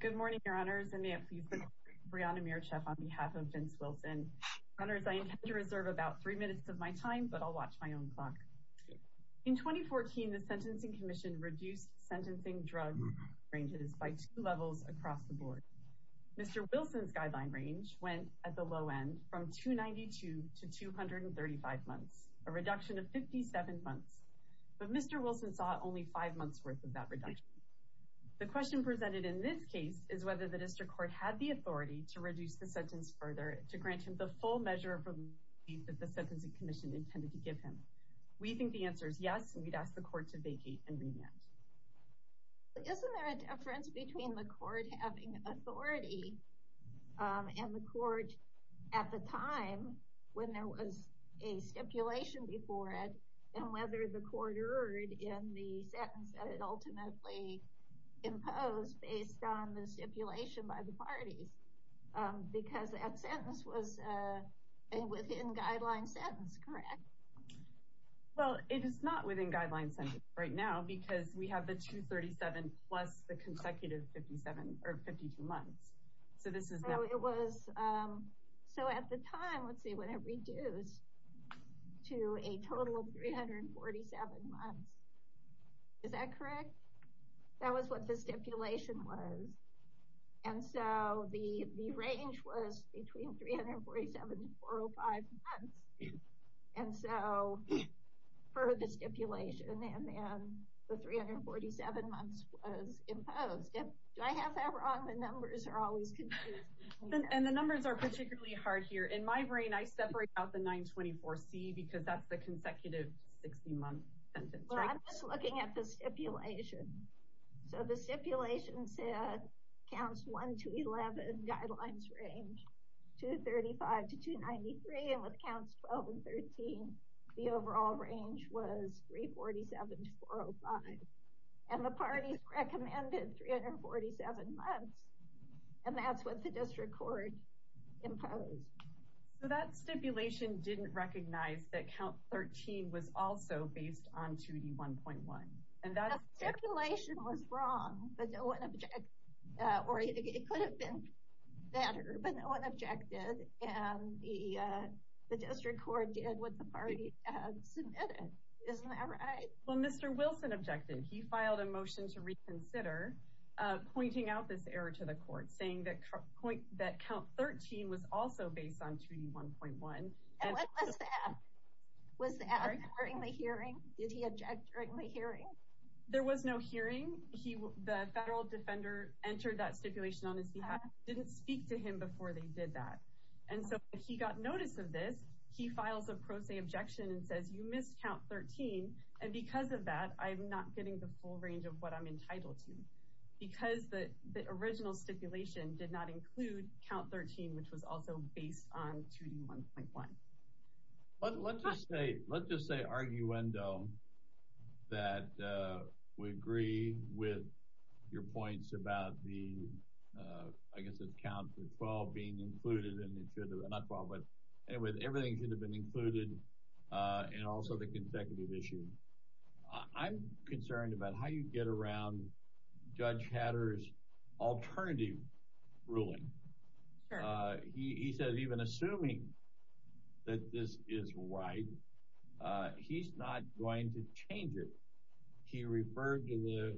Good morning, Your Honors, and may it please the Court, Brianna Mircheff on behalf of Vince Wilson. Your Honors, I intend to reserve about three minutes of my time, but I'll watch my own clock. In 2014, the Sentencing Commission reduced sentencing drug ranges by two levels across the board. Mr. Wilson's guideline range went, at the low end, from 292 to 235 months, a reduction of 57 months. But Mr. Wilson saw only five months' worth of that reduction. The question presented in this case is whether the District Court had the authority to reduce the sentence further to grant him the full measure of relief that the Sentencing Commission intended to give him. We think the answer is yes, and we'd ask the Court to vacate and remand. Isn't there a difference between the Court having authority and the Court, at the time, when there was a stipulation before it, and whether the Court erred in the sentence that it ultimately imposed based on the stipulation by the parties? Because that sentence was a within-guideline sentence, correct? Well, it is not within-guideline sentences right now, because we have the 237 plus the consecutive 52 months. So at the time, let's see, when it reduced to a total of 347 months, is that correct? That was what the stipulation was. And so the range was between 347 to 405 months. And so, per the stipulation, the 347 months was imposed. Do I have that wrong? The numbers are always confusing. And the numbers are particularly hard here. In my brain, I separate out the 924C, because that's the consecutive 60-month sentence, right? Well, I'm just looking at the stipulation. So the stipulation said counts 1 to 11, guidelines range 235 to 293. And with counts 12 and 13, the overall range was 347 to 405. And the parties recommended 347 months. And that's what the district court imposed. So that stipulation didn't recognize that count 13 was also based on 2D1.1. The stipulation was wrong, but no one objected. Or it could have been better, but no one objected. And the district court did what the party submitted. Isn't that right? Well, Mr. Wilson objected. He filed a motion to reconsider, pointing out this error to the court, saying that count 13 was also based on 2D1.1. And what was the app? Was the app during the hearing? Did he object during the hearing? There was no hearing. The federal defender entered that stipulation on his behalf, didn't speak to him before they did that. And so, if he got notice of this, he files a pro se objection and says, you missed count 13. And because of that, I'm not getting the full range of what I'm entitled to. Because the original stipulation did not include count 13, which was also based on 2D1.1. Let's just say arguendo that we agree with your points about the, I guess it's count 12 being included. Not 12, but everything should have been included and also the consecutive issue. I'm concerned about how you get around Judge Hatter's alternative ruling. He said, even assuming that this is right, he's not going to change it. He referred to the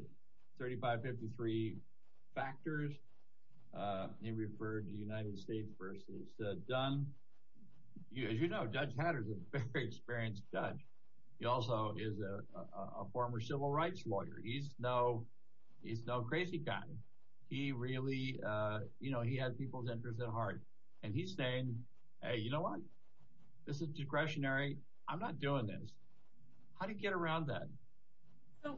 3553 factors. He referred to the United States versus Dunn. As you know, Judge Hatter is a very experienced judge. He also is a former civil rights lawyer. He's no crazy guy. He really, you know, he had people's interests at heart. And he's saying, hey, you know what? This is discretionary. I'm not doing this. How do you get around that?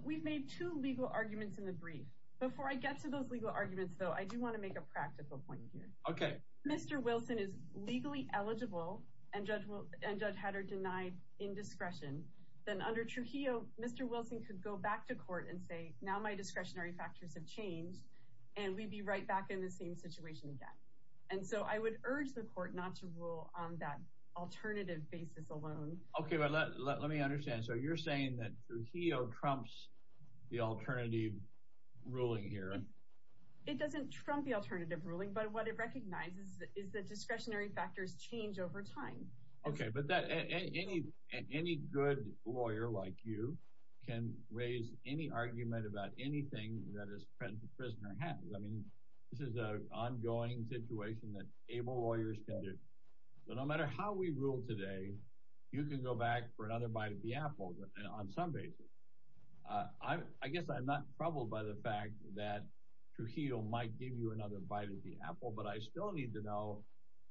We've made two legal arguments in the brief. Before I get to those legal arguments, though, I do want to make a practical point here. If Mr. Wilson is legally eligible and Judge Hatter denied indiscretion, then under Trujillo, Mr. Wilson could go back to court and say, now my discretionary factors have changed and we'd be right back in the same situation again. And so I would urge the court not to rule on that alternative basis alone. Okay, let me understand. So you're saying that Trujillo trumps the alternative ruling here? It doesn't trump the alternative ruling, but what it recognizes is that discretionary factors change over time. Okay, but any good lawyer like you can raise any argument about anything that a prisoner has. I mean, this is an ongoing situation that able lawyers can do. So no matter how we rule today, you can go back for another bite of the apple on some basis. I guess I'm not troubled by the fact that Trujillo might give you another bite of the apple, but I still need to know,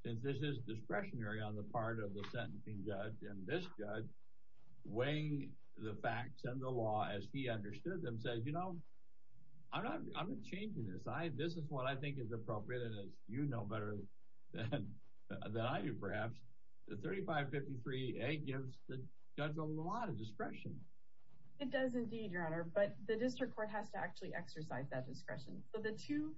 since this is discretionary on the part of the sentencing judge and this judge weighing the facts and the law as he understood them, says, you know, I'm not changing this. This is what I think is appropriate and as you know better than I do perhaps, the 3553A gives the judge a lot of discretion. It does indeed, Your Honor, but the district court has to actually exercise that discretion. So the two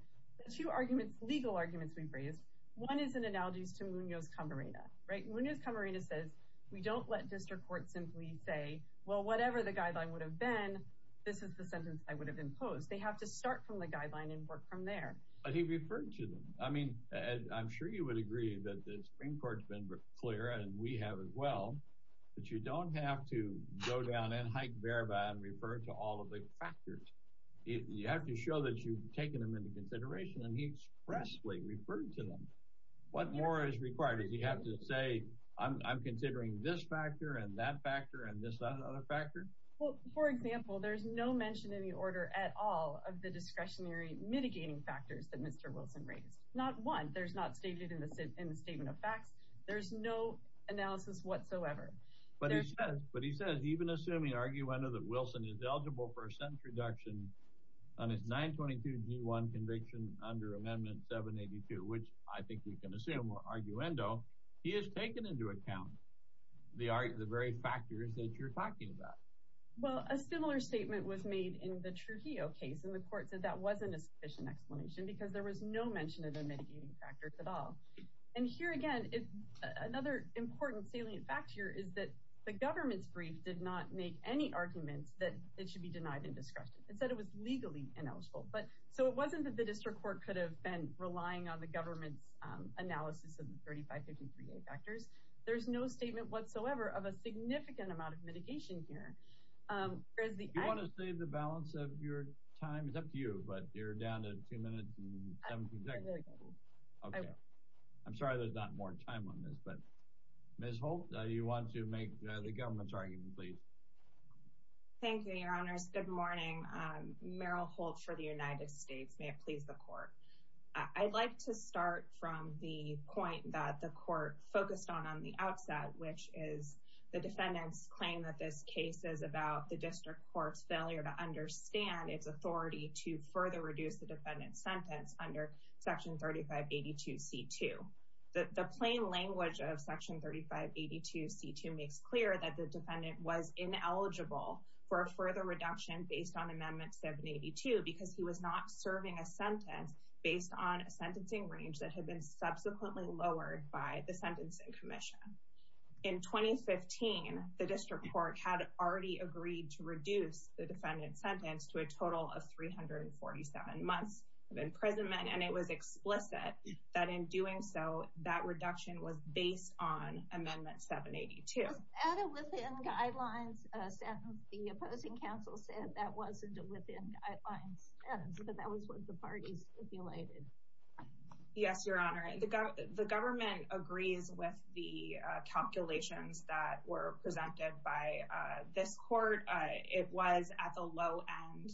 arguments, legal arguments we've raised, one is in analogies to Munoz-Camarena, right? Munoz-Camarena says we don't let district courts simply say, well, whatever the guideline would have been, this is the sentence I would have imposed. They have to start from the guideline and work from there. But he referred to them. I mean, Ed, I'm sure you would agree that the Supreme Court's been clear and we have as well that you don't have to go down and hike verify and refer to all of the factors. You have to show that you've taken them into consideration and he expressly referred to them. What more is required? Does he have to say, I'm considering this factor and that factor and this other factor? Well, for example, there's no mention in the order at all of the discretionary mitigating factors that Mr. Wilson raised. Not one. There's not stated in the statement of facts. There's no analysis whatsoever. But he says, even assuming, arguendo, that Wilson is eligible for a sentence reduction on his 922G1 conviction under Amendment 782, which I think we can assume, arguendo, he has taken into account the very factors that you're talking about. Well, a similar statement was made in the Trujillo case and the court said that wasn't a sufficient explanation because there was no mention of the mitigating factors at all. And here again, another important salient fact here is that the government's brief did not make any arguments that it should be denied in discretion. It said it was legally ineligible. So it wasn't that the district court could have been relying on the government's analysis of the 3553A factors. There's no statement whatsoever of a significant amount of mitigation here. Do you want to save the balance of your time? It's up to you, but you're down to two minutes and 17 seconds. Okay. I'm sorry there's not more time on this, but Ms. Holt, do you want to make the government's argument, please? Thank you, Your Honors. Good morning. Meryl Holt for the United States. May it please the court. I'd like to start from the point that the court focused on on the outset, which is the defendant's claim that this case is about the district court's failure to understand its authority to further reduce the defendant's sentence under Section 3582C2. The plain language of Section 3582C2 makes clear that the defendant was ineligible for a further reduction based on Amendment 782 because he was not serving a sentence based on a sentencing range that had been subsequently lowered by the Sentencing Commission. In 2015, the district court had already agreed to reduce the defendant's sentence to a total of 347 months of imprisonment, and it was explicit that in doing so, that reduction was based on Amendment 782. Was that a within-guidelines sentence? The opposing counsel said that wasn't a within-guidelines sentence, but that was what the party stipulated. Yes, Your Honor. The government agrees with the calculations that were presented by this court. It was, at the low end,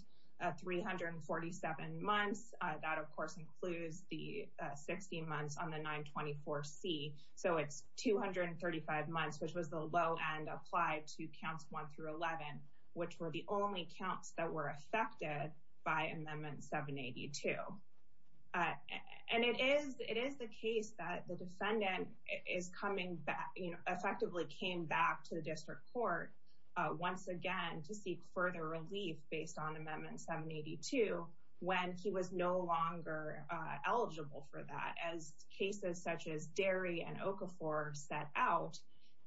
347 months. That, of course, includes the 16 months on the 924C. So it's 235 months, which was the low end applied to Counts 1 through 11, which were the only counts that were affected by Amendment 782. And it is the case that the defendant effectively came back to the district court once again to seek further relief based on Amendment 782 when he was no longer eligible for that. As cases such as Derry and Okafor set out,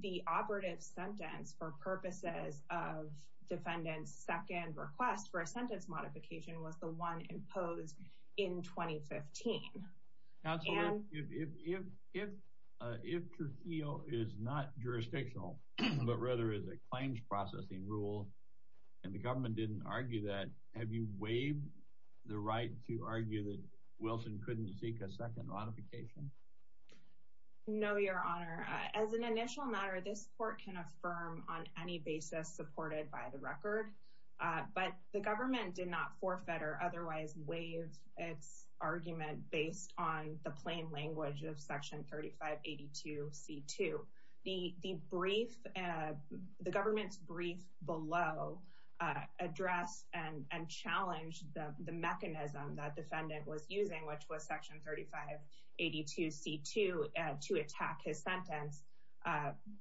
the operative sentence for purposes of defendant's second request for a sentence modification was the one imposed in 2015. Counselor, if Trujillo is not jurisdictional but rather is a claims processing rule and the government didn't argue that, have you waived the right to argue that Wilson couldn't seek a second modification? No, Your Honor. As an initial matter, this court can affirm on any basis supported by the record, but the government did not forfeit or otherwise waive its argument based on the plain language of Section 3582C2. The government's brief below addressed and challenged the mechanism that defendant was using, which was Section 3582C2 to attack his sentence,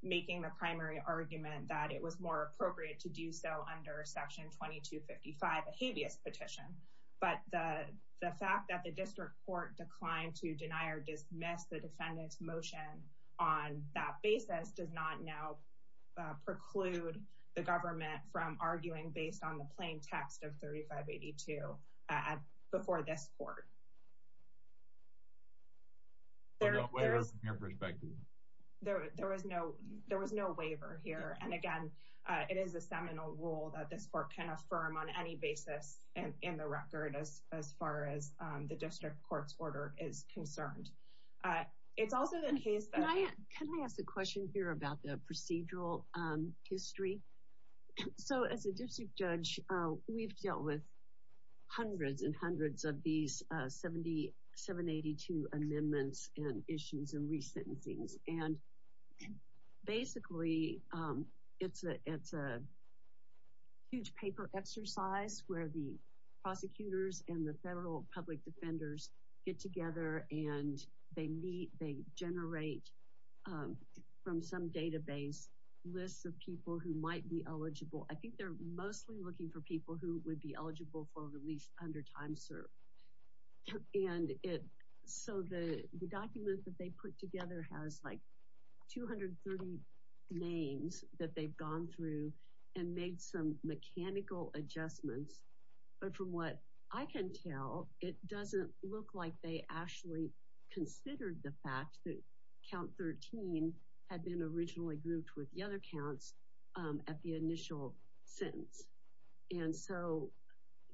making the primary argument that it was more appropriate to do so under Section 2255, a habeas petition. But the fact that the district court declined to deny or dismiss the defendant's motion on that basis does not now preclude the government from arguing based on the plain text of 3582 before this court. There was no waiver here. And again, it is a seminal rule that this court can affirm on any basis in the record as far as the district court's order is concerned. Can I ask a question here about the procedural history? So as a district judge, we've dealt with hundreds and hundreds of these 782 amendments and issues and resentencings. And basically, it's a huge paper exercise where the prosecutors and the federal public defenders get together and they meet, they generate from some database lists of people who might be eligible. I think they're mostly looking for people who would be eligible for release under time served. And so the document that they put together has like 230 names that they've gone through and made some mechanical adjustments. But from what I can tell, it doesn't look like they actually considered the fact that count 13 had been originally grouped with the other counts at the initial sentence. And so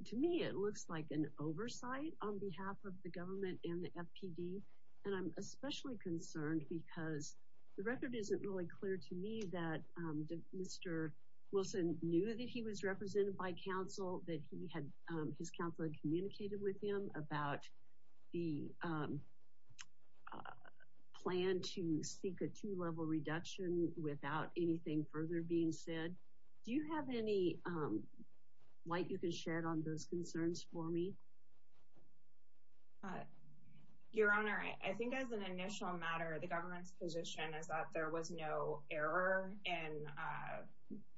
to me, it looks like an oversight on behalf of the government and the FPD. And I'm especially concerned because the record isn't really clear to me that Mr. Wilson knew that he was represented by counsel, that he had his counselor communicated with him about the plan to seek a two level reduction without anything further being said. Do you have any light you can shed on those concerns for me? Your Honor, I think as an initial matter, the government's position is that there was no error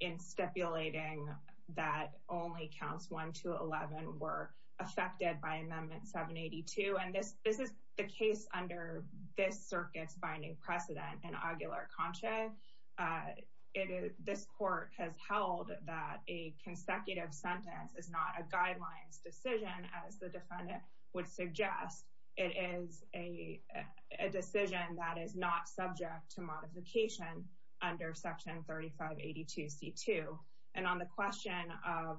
in stipulating that only counts one to 11 were affected by amendment 782. And this is the case under this circuit's binding precedent in Aguilar-Concha. This court has held that a consecutive sentence is not a guidelines decision as the defendant would suggest. It is a decision that is not subject to modification under section 3582C2. And on the question of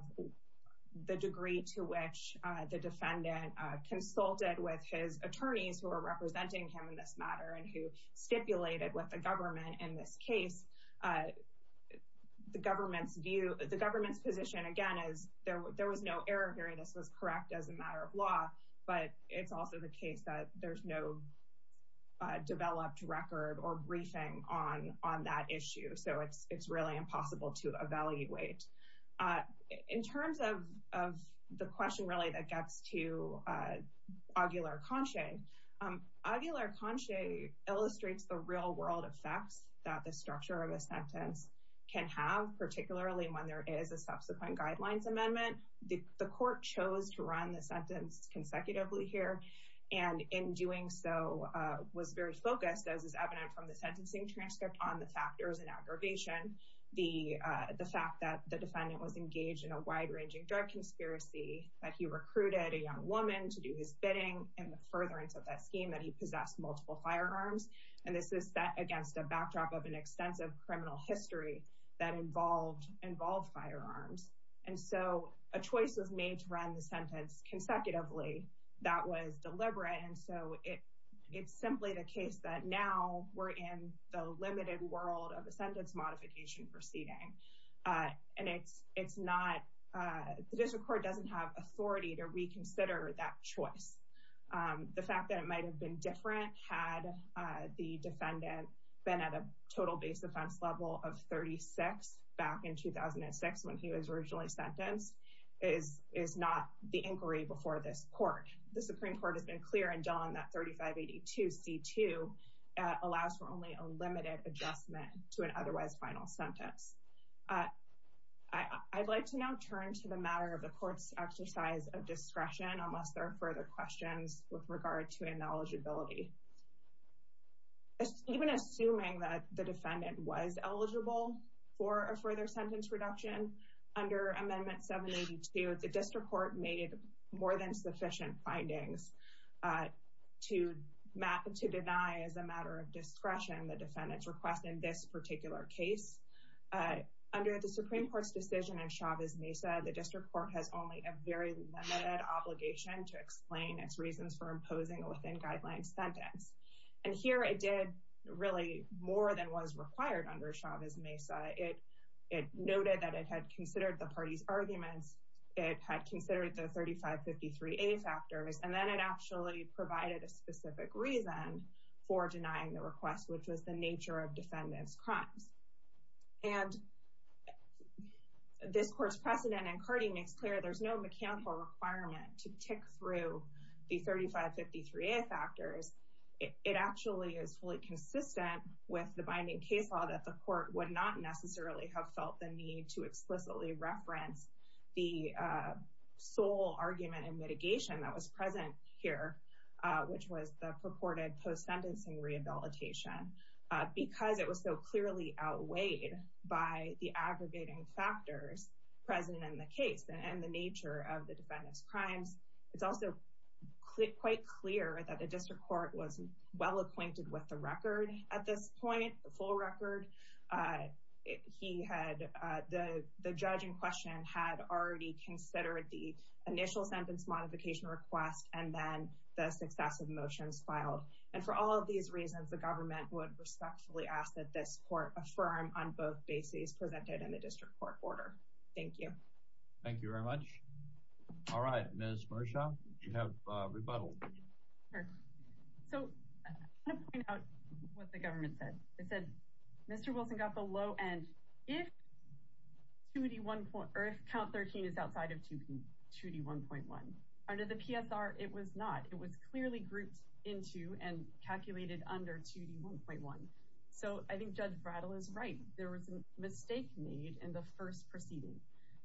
the degree to which the defendant consulted with his attorneys who are representing him in this matter and who stipulated with the government in this case, the government's view, the government's position again is there was no error here. This was correct as a matter of law. But it's also the case that there's no developed record or briefing on that issue. So it's really impossible to evaluate. In terms of the question really that gets to Aguilar-Concha, Aguilar-Concha illustrates the real world effects that the structure of a sentence can have, particularly when there is a subsequent guidelines amendment. The court chose to run the sentence consecutively here and in doing so was very focused, as is evident from the sentencing transcript, on the factors and aggravation. The fact that the defendant was engaged in a wide-ranging drug conspiracy, that he recruited a young woman to do his bidding, and the furtherance of that scheme, that he possessed multiple firearms. And this is set against a backdrop of an extensive criminal history that involved firearms. And so a choice was made to run the sentence consecutively. That was deliberate, and so it's simply the case that now we're in the limited world of a sentence modification proceeding. And the district court doesn't have authority to reconsider that choice. The fact that it might have been different had the defendant been at a total base defense level of 36 back in 2006 when he was originally sentenced is not the inquiry before this court. The Supreme Court has been clear and done that 3582C2 allows for only a limited adjustment to an otherwise final sentence. I'd like to now turn to the matter of the court's exercise of discretion, unless there are further questions with regard to ineligibility. Even assuming that the defendant was eligible for a further sentence reduction, under Amendment 782, the district court made more than sufficient findings to deny as a matter of discretion the defendant's request in this particular case. Under the Supreme Court's decision in Chavez Mesa, to explain its reasons for imposing within guidelines sentence. And here it did really more than was required under Chavez Mesa. It noted that it had considered the party's arguments. It had considered the 3553A factors. And then it actually provided a specific reason for denying the request, which was the nature of defendant's crimes. And this court's precedent in CARTI makes clear there's no mechanical requirement to tick through the 3553A factors. It actually is fully consistent with the binding case law that the court would not necessarily have felt the need to explicitly reference the sole argument and mitigation that was present here, which was the purported post-sentencing rehabilitation. Because it was so clearly outweighed by the aggregating factors present in the case and the nature of the defendant's crimes. It's also quite clear that the district court was well acquainted with the record at this point, the full record. The judge in question had already considered the initial sentence modification request and then the successive motions filed. And for all of these reasons, the government would respectfully ask that this court affirm on both bases presented in the district court order. Thank you. Thank you very much. All right, Ms. Marcia, you have rebuttal. Sure. So I want to point out what the government said. They said Mr. Wilson got the low end if count 13 is outside of 2D1.1. Under the PSR, it was not. It was clearly grouped into and calculated under 2D1.1. So I think Judge Brattle is right. There was a mistake made in the first proceeding.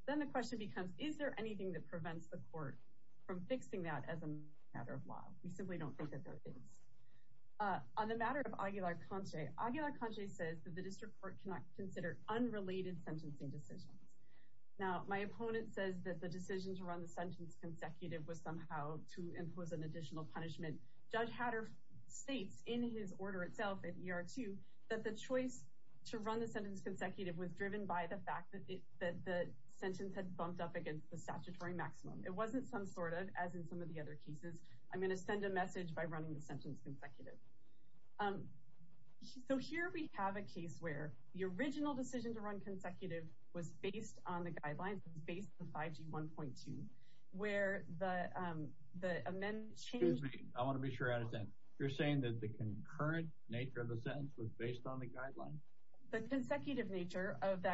Then the question becomes, is there anything that prevents the court from fixing that as a matter of law? We simply don't think that there is. On the matter of Aguilar-Conche, Aguilar-Conche says that the district court cannot consider unrelated sentencing decisions. Now, my opponent says that the decision to run the sentence consecutive was somehow to impose an additional punishment. Judge Hatter states in his order itself at ER2 that the choice to run the sentence consecutive was driven by the fact that the sentence had bumped up against the statutory maximum. It wasn't some sort of, as in some of the other cases. I'm going to send a message by running the sentence consecutive. So here we have a case where the original decision to run consecutive was based on the guidelines. It was based on 5G1.2, where the amendment changed... Excuse me. I want to be sure I understand. You're saying that the concurrent nature of the sentence was based on the guidelines? The consecutive nature of the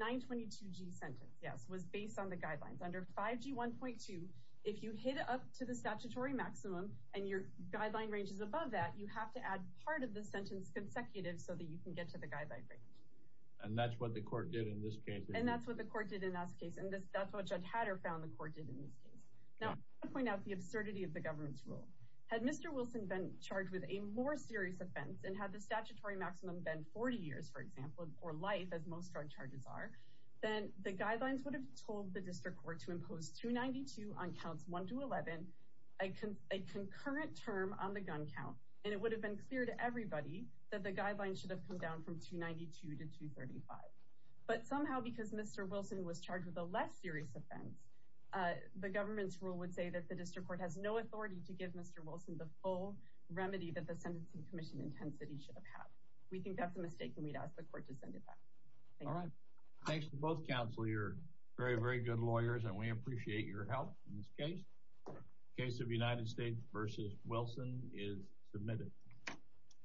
922G sentence, yes, was based on the guidelines. Under 5G1.2, if you hit up to the statutory maximum and your guideline range is above that, you have to add part of the sentence consecutive so that you can get to the guideline range. And that's what the court did in this case? And that's what the court did in this case. And that's what Judge Hatter found the court did in this case. Now, I want to point out the absurdity of the government's rule. Had Mr. Wilson been charged with a more serious offense and had the statutory maximum been 40 years, for example, or life, as most drug charges are, then the guidelines would have told the district court to impose 292 on counts 1 to 11, a concurrent term on the gun count, and it would have been clear to everybody that the guidelines should have come down from 292 to 235. But somehow, because Mr. Wilson was charged with a less serious offense, the government's rule would say that the district court has no authority to give Mr. Wilson the full remedy that the Sentencing Commission intends that he should have had. We think that's a mistake, and we'd ask the court to send it back. Thank you. All right. Thanks to both counsel. You're very, very good lawyers, and we appreciate your help in this case. Case of United States v. Wilson is submitted.